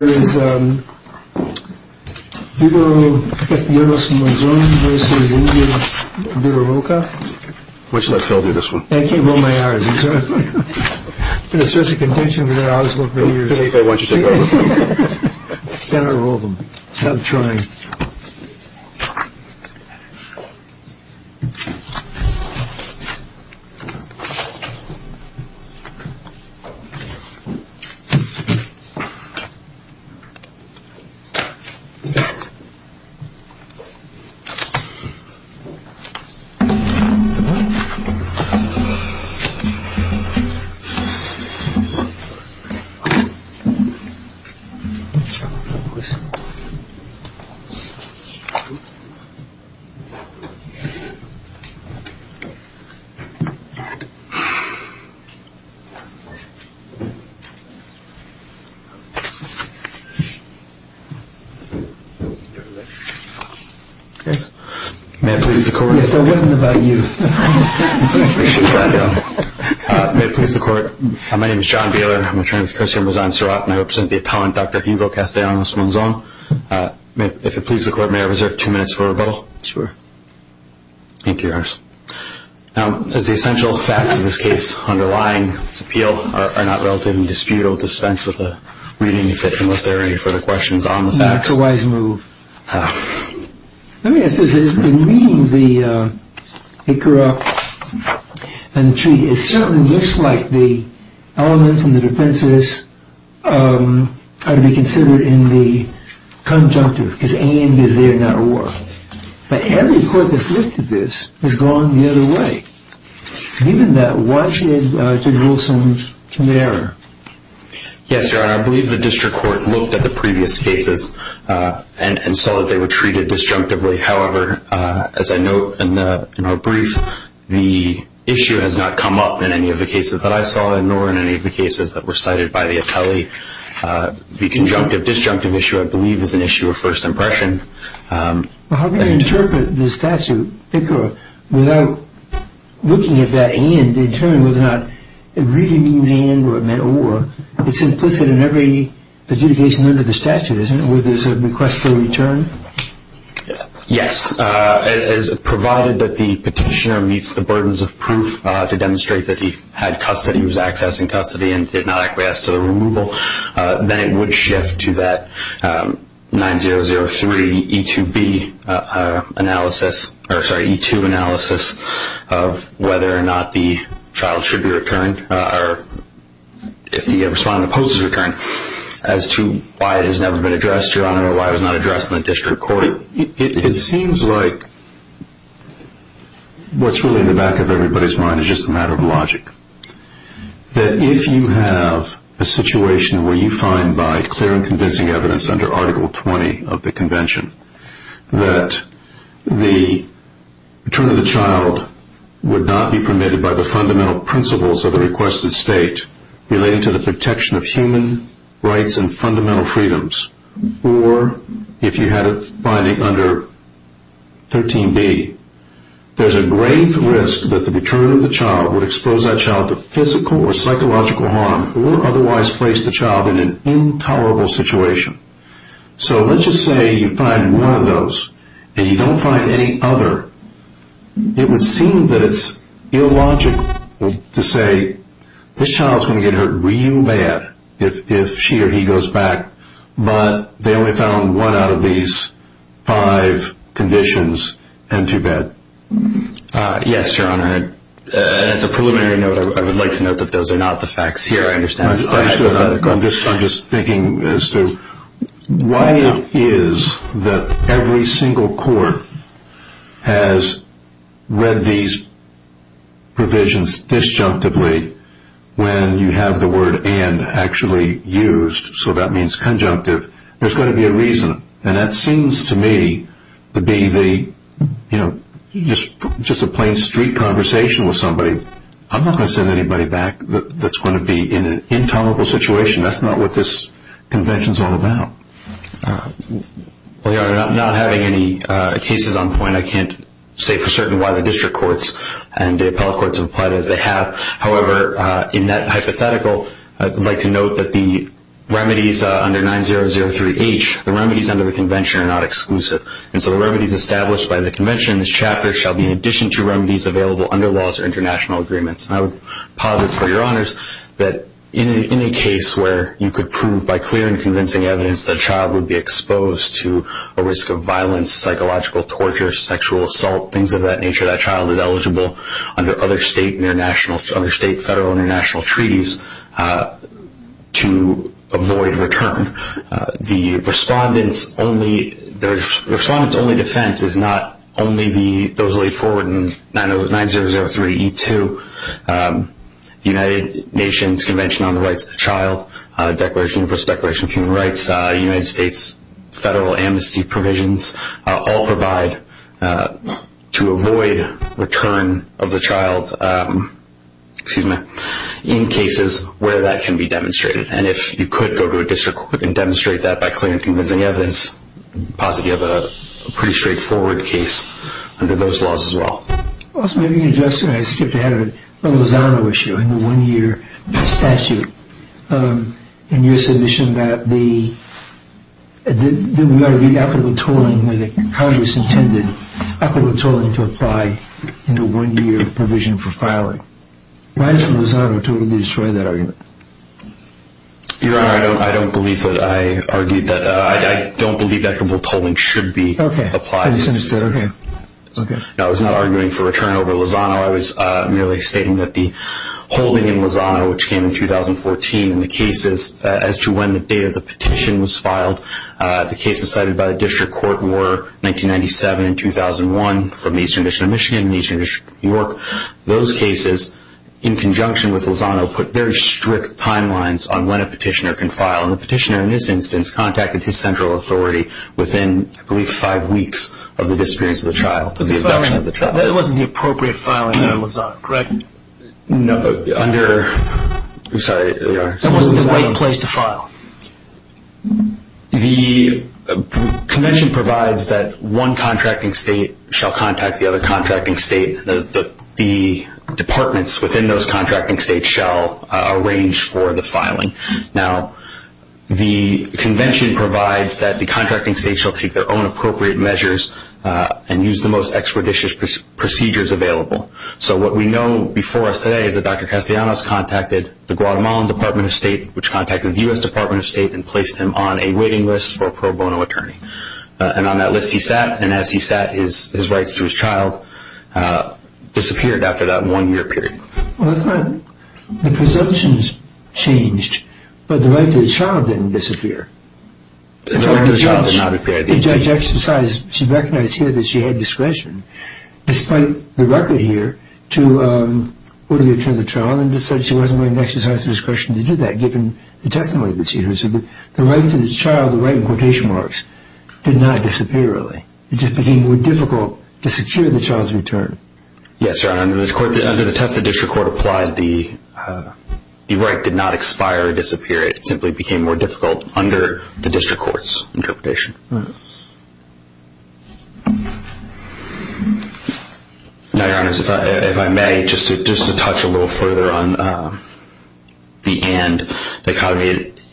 Why don't you let Phil do this one? I can't roll my R's. It's been a series of contention for the last couple of years. I want you to take over. Can I roll them? I'm trying. I'm trying. May it please the court. Yes, that wasn't about you. May it please the court. My name is John Baylor. I'm a trans-Christian. I represent the appellant, Dr. Hugo Castellanos Monzon. If it pleases the court, may I reserve two minutes for rebuttal? Sure. Thank you, Your Honor. Now, as the essential facts of this case underlying this appeal are not relatively disputable, dispense with the reading, unless there are any further questions on the facts. That's a wise move. Let me ask this. In reading the Icarus and the treaty, it certainly looks like the elements and the defenses are to be considered in the conjunctive, because aim is there, not war. But every court that's looked at this has gone the other way. Given that, why should there be some error? Yes, Your Honor, I believe the district court looked at the previous cases and saw that they were treated disjunctively. However, as I note in our brief, the issue has not come up in any of the cases that I saw, nor in any of the cases that were cited by the atelier. The conjunctive-disjunctive issue, I believe, is an issue of first impression. Well, how can you interpret this statute, Icarus, without looking at that end and determining whether or not it really means and or it meant or? It's implicit in every adjudication under the statute, isn't it, where there's a request for return? Yes. Provided that the petitioner meets the burdens of proof to demonstrate that he had custody, was accessing custody, and did not acquiesce to the removal, then it would shift to that 9003E2 analysis of whether or not the child should be returned, or if the respondent opposes return, as to why it has never been addressed, Your Honor, or why it was not addressed in the district court. It seems like what's really in the back of everybody's mind is just a matter of logic. That if you have a situation where you find by clear and convincing evidence under Article 20 of the Convention that the return of the child would not be permitted by the fundamental principles of the requested state relating to the protection of human rights and fundamental freedoms, or if you had it binding under 13B, there's a grave risk that the return of the child would expose that child to physical or psychological harm or otherwise place the child in an intolerable situation. So let's just say you find one of those and you don't find any other. It would seem that it's illogical to say this child's going to get hurt real bad if she or he goes back, but they only found one out of these five conditions and too bad. Yes, Your Honor. As a preliminary note, I would like to note that those are not the facts here. I understand. I'm just thinking as to why it is that every single court has read these provisions disjunctively when you have the word and actually used, so that means conjunctive. There's got to be a reason, and that seems to me to be just a plain street conversation with somebody. I'm not going to send anybody back that's going to be in an intolerable situation. That's not what this Convention's all about. Well, Your Honor, I'm not having any cases on point. I can't say for certain why the district courts and the appellate courts have applied as they have. However, in that hypothetical, I'd like to note that the remedies under 9003H, the remedies under the Convention are not exclusive, and so the remedies established by the Convention in this chapter shall be in addition to remedies available under laws or international agreements. And I would posit for Your Honors that in a case where you could prove by clear and convincing evidence that a child would be exposed to a risk of violence, psychological torture, sexual assault, things of that nature, that child is eligible under other state, federal, or international treaties to avoid return. The Respondent's only defense is not only those laid forward in 9003E2, the United Nations Convention on the Rights of the Child, First Declaration of Human Rights, United States federal amnesty provisions, all provide to avoid return of the child in cases where that can be demonstrated. And if you could go to a district court and demonstrate that by clear and convincing evidence, I'd posit you have a pretty straightforward case under those laws as well. Also, maybe you can address, and I skipped ahead of it, the Lozano issue, and the one-year statute in your submission that we ought to read equitable tolling where the Congress intended equitable tolling to apply in the one-year provision for filing. Why does Lozano totally destroy that argument? Your Honor, I don't believe that I argued that. I don't believe equitable tolling should be applied in this instance. Okay. I'm not arguing for return over Lozano. I was merely stating that the holding in Lozano, which came in 2014, and the cases as to when the date of the petition was filed, the cases cited by the district court were 1997 and 2001 from the Eastern District of Michigan and the Eastern District of New York. Those cases, in conjunction with Lozano, put very strict timelines on when a petitioner can file. That wasn't the appropriate filing in Lozano, correct? No. Sorry, Your Honor. That wasn't the right place to file? The convention provides that one contracting state shall contact the other contracting state. Now, the convention provides that the contracting state shall take their own appropriate measures and use the most expeditious procedures available. So what we know before us today is that Dr. Castellanos contacted the Guatemalan Department of State, which contacted the U.S. Department of State, and placed him on a waiting list for a pro bono attorney. And on that list he sat, and as he sat, his rights to his child disappeared after that one-year period. Well, that's not – the presumptions changed, but the right to the child didn't disappear. The right to the child did not disappear. The judge exercised – she recognized here that she had discretion, despite the record here to order the return of the child, and decided she wasn't going to exercise the discretion to do that, given the testimony that she heard. So the right to the child, the right in quotation marks, did not disappear, really. It just became more difficult to secure the child's return. Yes, Your Honor. Under the test the district court applied, the right did not expire or disappear. It simply became more difficult under the district court's interpretation. All right. Now, Your Honors, if I may, just to touch a little further on the and.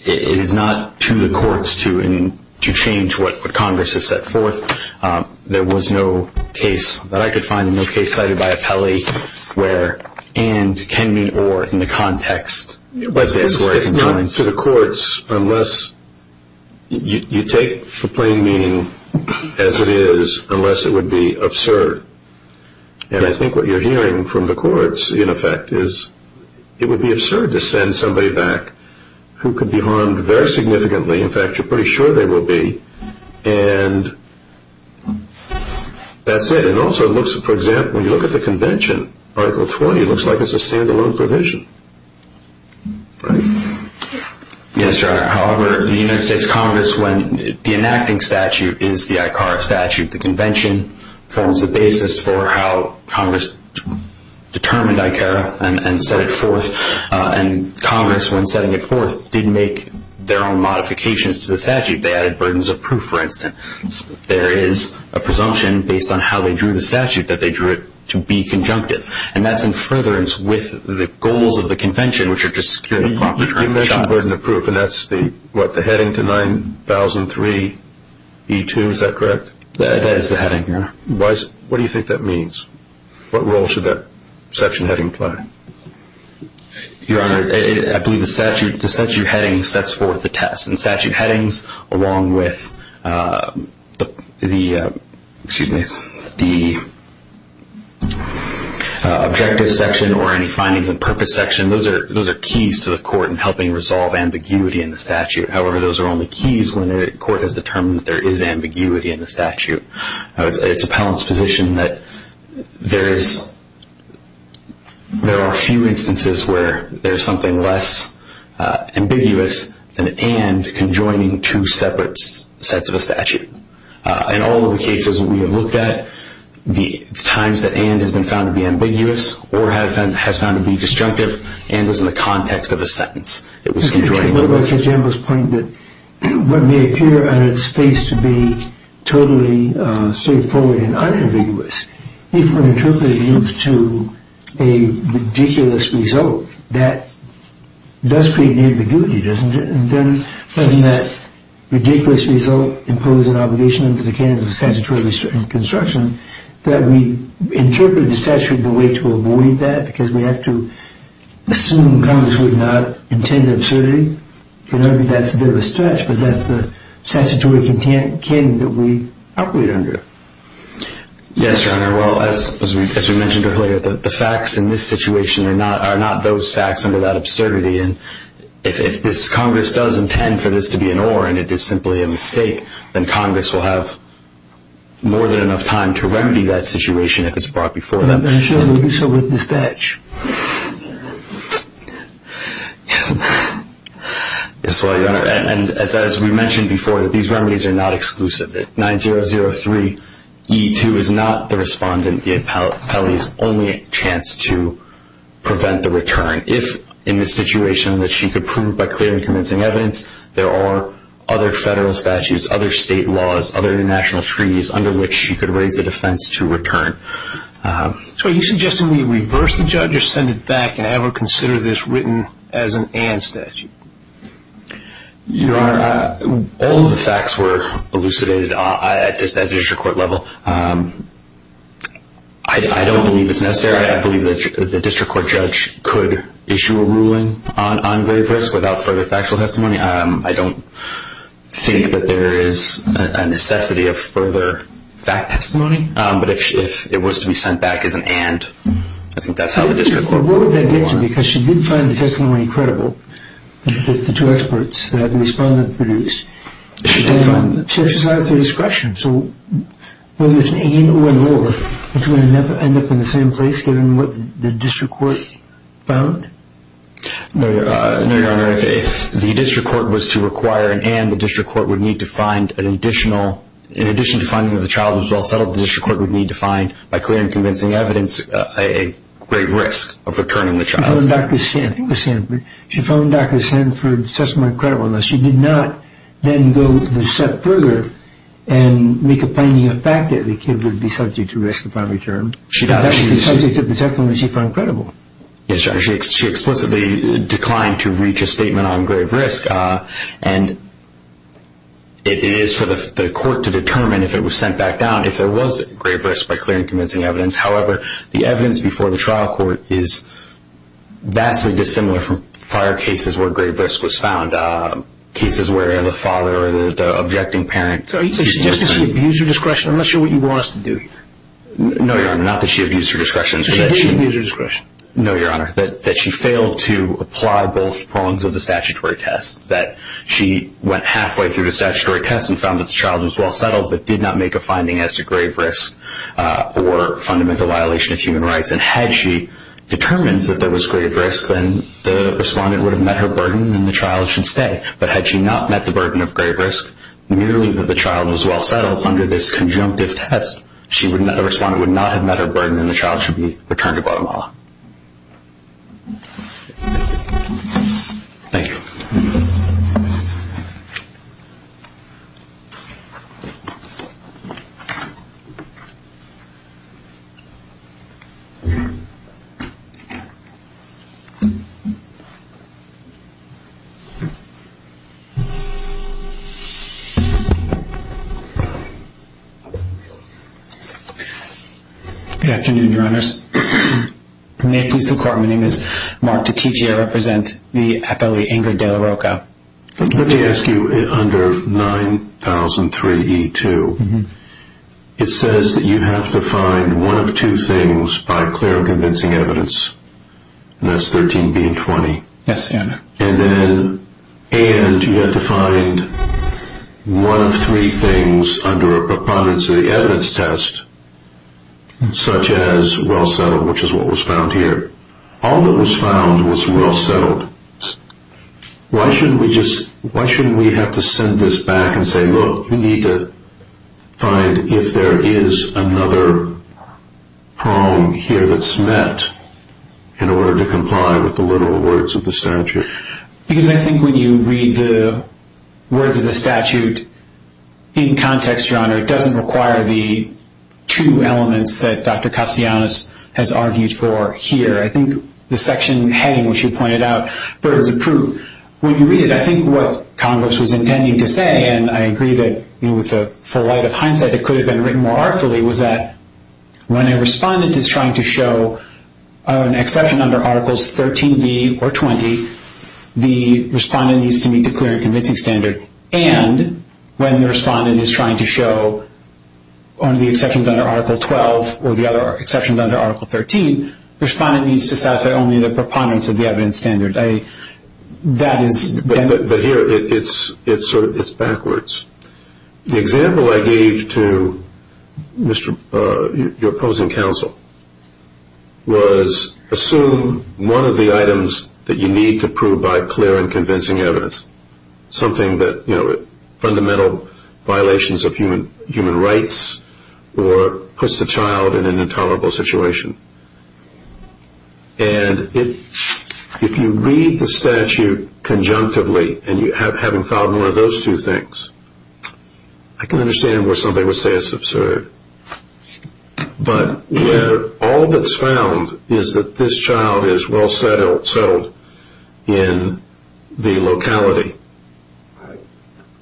It is not to the courts to change what Congress has set forth. There was no case that I could find, no case cited by Appelli where and can mean or in the context of this. But it's not to the courts unless – you take the plain meaning as it is, unless it would be absurd. And I think what you're hearing from the courts, in effect, is it would be absurd to send somebody back who could be harmed very significantly. In fact, you're pretty sure they will be. And that's it. It also looks, for example, when you look at the convention, Article 20, it looks like it's a stand-alone provision. Right? Yes, Your Honor. However, the United States Congress, when the enacting statute is the ICARA statute, the convention forms the basis for how Congress determined ICARA and set it forth. And Congress, when setting it forth, did make their own modifications to the statute. They added burdens of proof, for instance. There is a presumption based on how they drew the statute that they drew it to be conjunctive. And that's in furtherance with the goals of the convention, which are to secure the proper term of the child. You mentioned burden of proof, and that's the heading to 9003E2, is that correct? That is the heading, Your Honor. What do you think that means? What role should that section heading play? Your Honor, I believe the statute heading sets forth the test. And statute headings, along with the objective section or any findings and purpose section, those are keys to the court in helping resolve ambiguity in the statute. However, those are only keys when the court has determined that there is ambiguity in the statute. It's appellant's position that there are few instances where there is something less ambiguous than an and conjoining two separate sets of a statute. In all of the cases that we have looked at, the times that and has been found to be ambiguous or has been found to be disjunctive, and was in the context of a sentence. Mr. Chamberlain, Mr. Chamberlain's point that what may appear on its face to be totally straightforward and unambiguous, if we're interpreting it to a ridiculous result, that does create ambiguity, doesn't it? And then from that ridiculous result, impose an obligation under the canons of statutory construction, that we interpret the statute in a way to avoid that, because we have to assume Congress would not intend an absurdity. And maybe that's a bit of a stretch, but that's the statutory canon that we operate under. Yes, Your Honor. Well, as we mentioned earlier, the facts in this situation are not those facts under that absurdity. And if this Congress does intend for this to be an or, and it is simply a mistake, then Congress will have more than enough time to remedy that situation if it's brought before them. And I'm sure they'll do so with dispatch. Yes, Your Honor. And as we mentioned before, these remedies are not exclusive. 9003E2 is not the respondent, the appellee's only chance to prevent the return. If in this situation that she could prove by clear and convincing evidence, there are other federal statutes, other state laws, other international treaties, under which she could raise a defense to return. So are you suggesting we reverse the judge or send it back and have her consider this written as an and statute? Your Honor, all of the facts were elucidated at district court level. I don't believe it's necessary. I believe that the district court judge could issue a ruling on grave risk without further factual testimony. I don't think that there is a necessity of further fact testimony. But if it was to be sent back as an and, I think that's how the district court would go on. But what would that get you? Because she did find the testimony credible, the two experts that the respondent produced. She did find it. She actually has the discretion. So whether it's an and or an or, it's going to end up in the same place given what the district court found? No, Your Honor. If the district court was to require an and, the district court would need to find an additional... In addition to finding that the child was well settled, the district court would need to find, by clear and convincing evidence, a grave risk of returning the child. She phoned Dr. Sanford. I think it was Sanford. She phoned Dr. Sanford to testify on credibility. She did not then go a step further and make a finding of fact that the kid would be subject to risk upon return. That's the subject of the testimony she found credible. She explicitly declined to reach a statement on grave risk, and it is for the court to determine if it was sent back down if there was grave risk by clear and convincing evidence. However, the evidence before the trial court is vastly dissimilar from prior cases where grave risk was found, cases where the father or the objecting parent... So are you suggesting she abused her discretion? I'm not sure what you want us to do here. No, Your Honor, not that she abused her discretion. No, Your Honor, that she failed to apply both prongs of the statutory test, that she went halfway through the statutory test and found that the child was well settled but did not make a finding as to grave risk or fundamental violation of human rights. And had she determined that there was grave risk, then the respondent would have met her burden and the child should stay. But had she not met the burden of grave risk, merely that the child was well settled under this conjunctive test, the respondent would not have met her burden and the child should be returned to Guatemala. Thank you. Good afternoon, Your Honors. May it please the Court, my name is Mark DiCiccio. I represent the appellee, Ingrid de la Roca. Let me ask you, under 9003E2, it says that you have to find one of two things by clear and convincing evidence, and that's 13B and 20. Yes, Your Honor. And you have to find one of three things under a preponderance of the evidence test, such as well settled, which is what was found here. All that was found was well settled. Why shouldn't we have to send this back and say, look, you need to find if there is another prong here that's met in order to comply with the literal words of the statute? Because I think when you read the words of the statute in context, Your Honor, it doesn't require the two elements that Dr. Castellanos has argued for here. I think the section heading, which you pointed out, bears a proof. When you read it, I think what Congress was intending to say, and I agree that with the full light of hindsight it could have been written more artfully, was that when a respondent is trying to show an exception under Articles 13B or 20, the respondent needs to meet the clear and convincing standard. And when the respondent is trying to show one of the exceptions under Article 12 or the other exceptions under Article 13, the respondent needs to satisfy only the preponderance of the evidence standard. But here it's backwards. The example I gave to your opposing counsel was assume one of the items that you need to prove by clear and convincing evidence, something that, you know, fundamental violations of human rights or puts the child in an intolerable situation. And if you read the statute conjunctively and having found one of those two things, I can understand why somebody would say it's absurd. But where all that's found is that this child is well settled in the locality,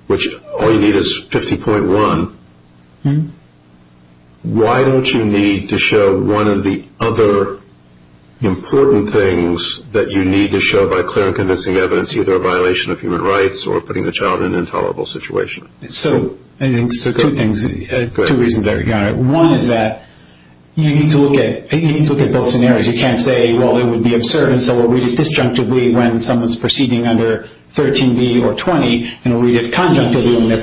which all you need is 50.1, why don't you need to show one of the other important things that you need to show by clear and convincing evidence, either a violation of human rights or putting the child in an intolerable situation? So two things, two reasons, Your Honor. One is that you need to look at both scenarios. You can't say, well, it would be absurd and so we'll read it disjunctively when someone's proceeding under 13B or 20 and we'll read it conjunctively when they're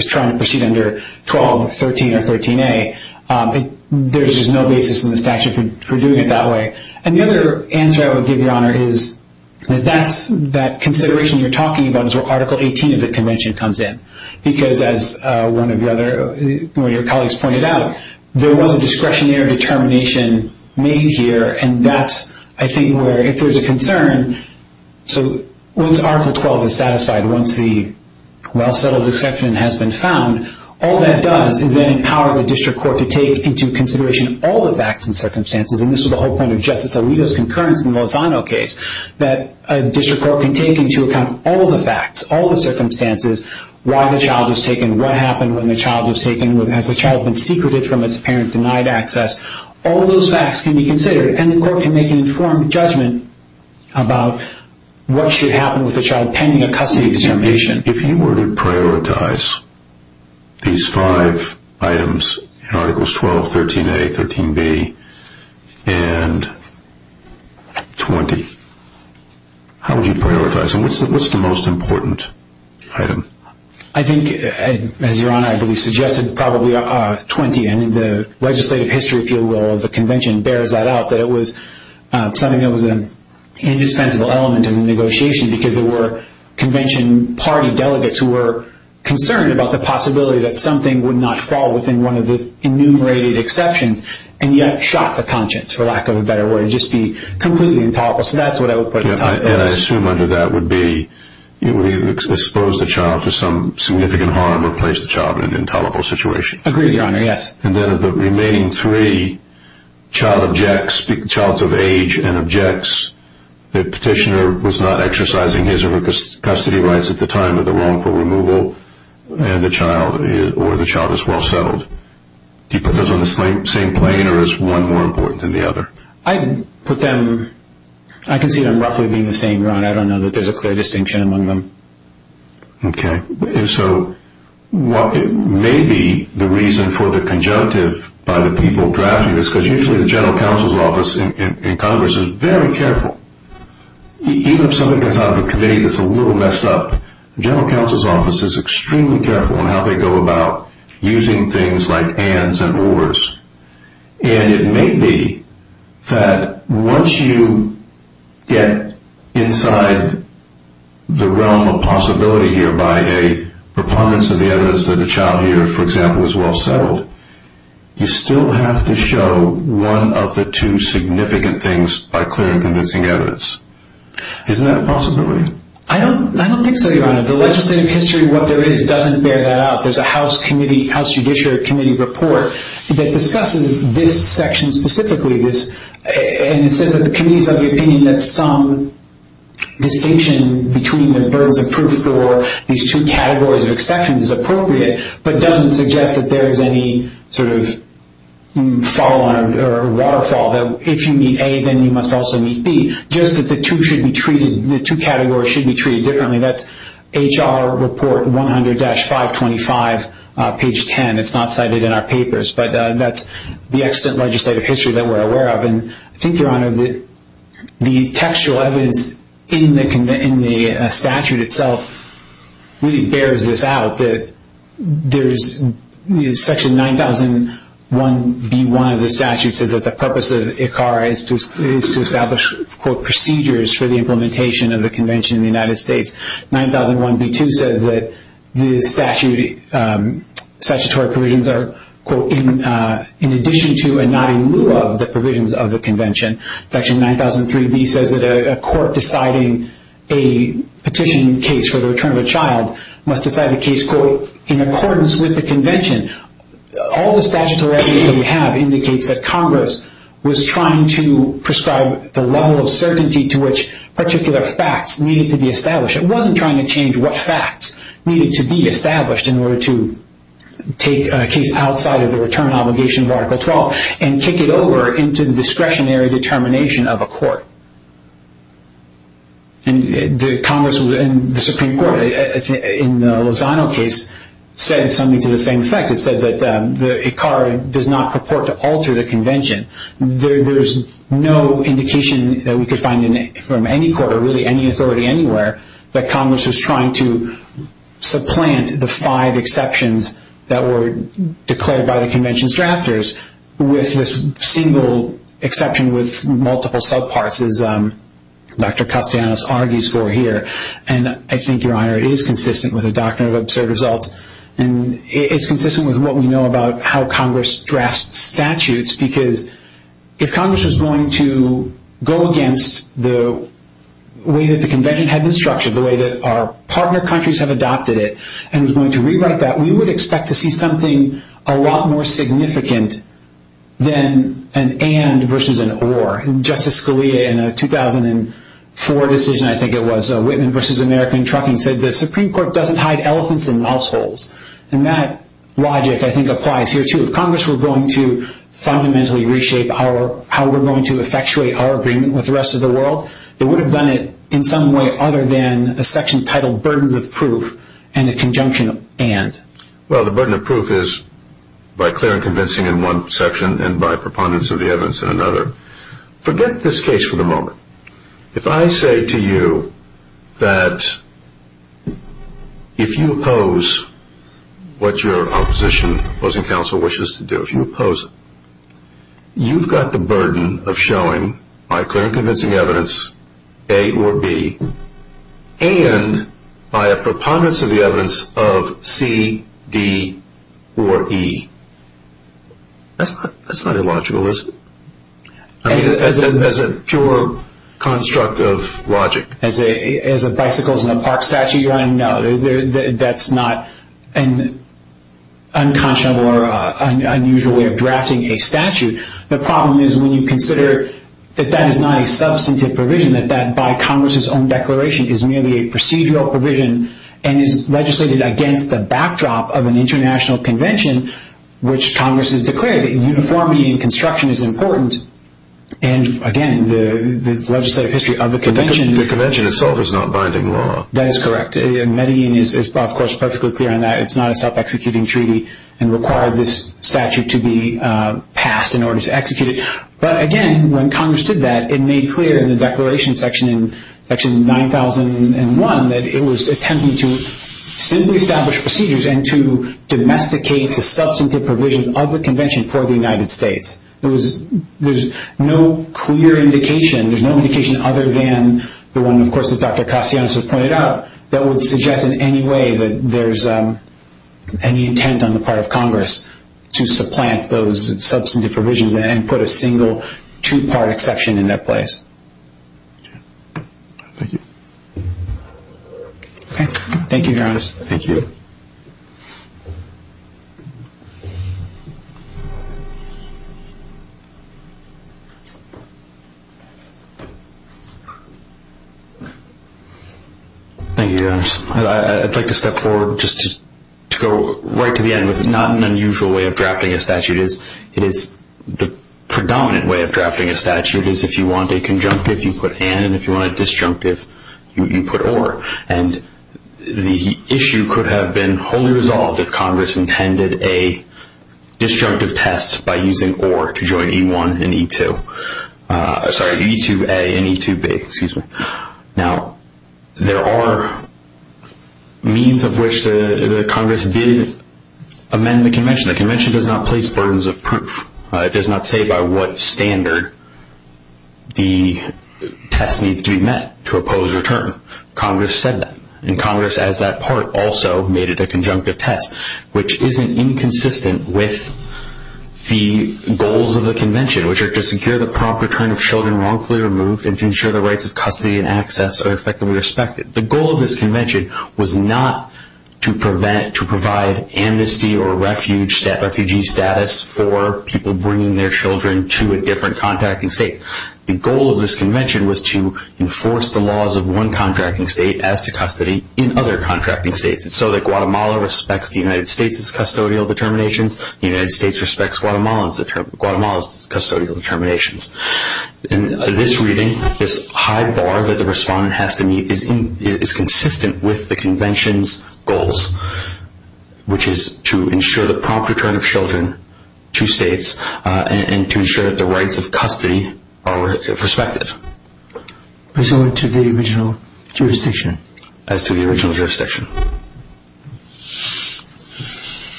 trying to proceed under 12 or 13 or 13A. There's just no basis in the statute for doing it that way. And the other answer I would give, Your Honor, is that consideration you're talking about is where Article 18 of the convention comes in. Because as one of your colleagues pointed out, there was a discretionary determination made here and that's, I think, where if there's a concern, so once Article 12 is satisfied, once the well settled exception has been found, all that does is then empower the district court to take into consideration all the facts and circumstances, and this was the whole point of Justice Alito's concurrence in the Lozano case, that a district court can take into account all the facts, all the circumstances, why the child was taken, what happened when the child was taken, has the child been secreted from its parent, denied access. All those facts can be considered and the court can make an informed judgment about what should happen with the child pending a custody determination. If you were to prioritize these five items, Articles 12, 13A, 13B, and 20, how would you prioritize them? What's the most important item? I think, as Your Honor, I believe suggested, probably 20. The legislative history, if you will, of the convention bears that out, that it was something that was an indispensable element in the negotiation because there were convention party delegates who were concerned about the possibility that something would not fall within one of the enumerated exceptions, and yet shot the conscience, for lack of a better word. It would just be completely intolerable, so that's what I would put at the top of those. And I assume under that would be, it would either expose the child to some significant harm or place the child in an intolerable situation. Agreed, Your Honor, yes. And then of the remaining three, child of age and objects, the petitioner was not exercising his or her custody rights at the time of the wrongful removal, or the child is well settled. Do you put those on the same plane, or is one more important than the other? I put them, I can see them roughly being the same, Your Honor. I don't know that there's a clear distinction among them. Okay, so maybe the reason for the conjunctive by the people drafting this, because usually the general counsel's office in Congress is very careful. Even if something comes out of a committee that's a little messed up, the general counsel's office is extremely careful in how they go about using things like ands and ors. And it may be that once you get inside the realm of possibility here by a preponderance of the evidence that a child here, for example, is well settled, you still have to show one of the two significant things by clear and convincing evidence. Isn't that a possibility? I don't think so, Your Honor. The legislative history, what there is, doesn't bear that out. There's a House Judiciary Committee report that discusses this section specifically. And it says that the committee's of the opinion that some distinction between the burdens of proof for these two categories of exceptions is appropriate, but doesn't suggest that there is any sort of fallout or waterfall. If you meet A, then you must also meet B. Just that the two should be treated, the two categories should be treated differently. That's HR Report 100-525, page 10. It's not cited in our papers. But that's the extant legislative history that we're aware of. And I think, Your Honor, the textual evidence in the statute itself really bears this out, that Section 9001B1 of the statute says that the purpose of ICARA is to establish, quote, 9001B2 says that the statutory provisions are, quote, in addition to and not in lieu of the provisions of the convention. Section 9003B says that a court deciding a petition case for the return of a child must decide the case, quote, in accordance with the convention. All the statutory evidence that we have indicates that Congress was trying to prescribe the level of certainty to which particular facts needed to be established. It wasn't trying to change what facts needed to be established in order to take a case outside of the return obligation of Article 12 and kick it over into the discretionary determination of a court. And the Congress and the Supreme Court in the Lozano case said something to the same effect. It said that ICARA does not purport to alter the convention. There's no indication that we could find from any court or really any authority anywhere that Congress was trying to supplant the five exceptions that were declared by the convention's drafters with this single exception with multiple subparts, as Dr. Castellanos argues for here. And I think, Your Honor, it is consistent with the doctrine of absurd results. And it's consistent with what we know about how Congress drafts statutes because if Congress was going to go against the way that the convention had been structured, the way that our partner countries have adopted it, and was going to rewrite that, we would expect to see something a lot more significant than an and versus an or. Justice Scalia in a 2004 decision, I think it was, a Whitman versus American trucking, said the Supreme Court doesn't hide elephants in mouse holes. And that logic, I think, applies here, too. If Congress were going to fundamentally reshape how we're going to effectuate our agreement with the rest of the world, they would have done it in some way other than a section titled burdens of proof and a conjunction of and. Well, the burden of proof is by clear and convincing in one section and by preponderance of the evidence in another. Forget this case for the moment. If I say to you that if you oppose what your opposition, opposing counsel, wishes to do, if you oppose it, you've got the burden of showing by clear and convincing evidence A or B and by a preponderance of the evidence of C, D, or E. That's not illogical, is it? I mean, as a pure construct of logic. As a bicycles in a park statute? No, that's not an unconscionable or unusual way of drafting a statute. The problem is when you consider that that is not a substantive provision, that that by Congress's own declaration is merely a procedural provision and is legislated against the backdrop of an international convention, which Congress has declared that uniformity in construction is important. And again, the legislative history of the convention... The convention itself is not binding law. That is correct. Medellin is, of course, perfectly clear on that. It's not a self-executing treaty and required this statute to be passed in order to execute it. But again, when Congress did that, it made clear in the declaration section in section 9001 that it was attempting to simply establish procedures and to domesticate the substantive provisions of the convention for the United States. There's no clear indication. There's no indication other than the one, of course, that Dr. Castellanos has pointed out, that would suggest in any way that there's any intent on the part of Congress to supplant those substantive provisions and put a single two-part exception in their place. Okay. Thank you. Okay. Thank you, Your Honors. Thank you. Thank you, Your Honors. I'd like to step forward just to go right to the end with not an unusual way of drafting a statute. It is the predominant way of drafting a statute is if you want a conjunctive, you put an, and if you want a disjunctive, you put or. And the issue could have been wholly resolved if Congress intended a disjunctive test by using or to join E-1 and E-2. Sorry, E-2a and E-2b, excuse me. Now, there are means of which the Congress did amend the convention. The convention does not place burdens of proof. It does not say by what standard the test needs to be met to oppose a term. Congress said that. And Congress, as that part, also made it a conjunctive test, which isn't inconsistent with the goals of the convention, which are to secure the proper return of children wrongfully removed and to ensure the rights of custody and access are effectively respected. The goal of this convention was not to provide amnesty or refugee status for people bringing their children to a different contracting state. The goal of this convention was to enforce the laws of one contracting state as to custody in other contracting states. And so that Guatemala respects the United States' custodial determinations, the United States respects Guatemala's custodial determinations. And this reading, this high bar that the respondent has to meet, is consistent with the convention's goals, which is to ensure the proper return of children to states and to ensure that the rights of custody are respected. As to the original jurisdiction.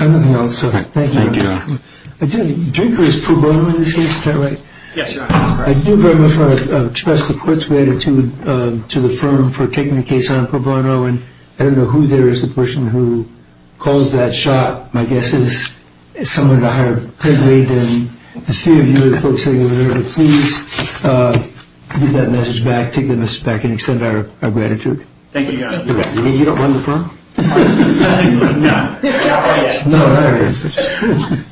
Anything else? Thank you. Drinker is pro bono in this case, is that right? Yes, Your Honor. I do very much want to express the court's gratitude to the firm for taking the case on pro bono. And I don't know who there is, the person who calls that shot. My guess is someone at the higher pedigree than the three of you, the folks sitting over there. But please give that message back, take that message back, and extend our gratitude. Thank you, Your Honor. You don't run the firm? No. No, no, no.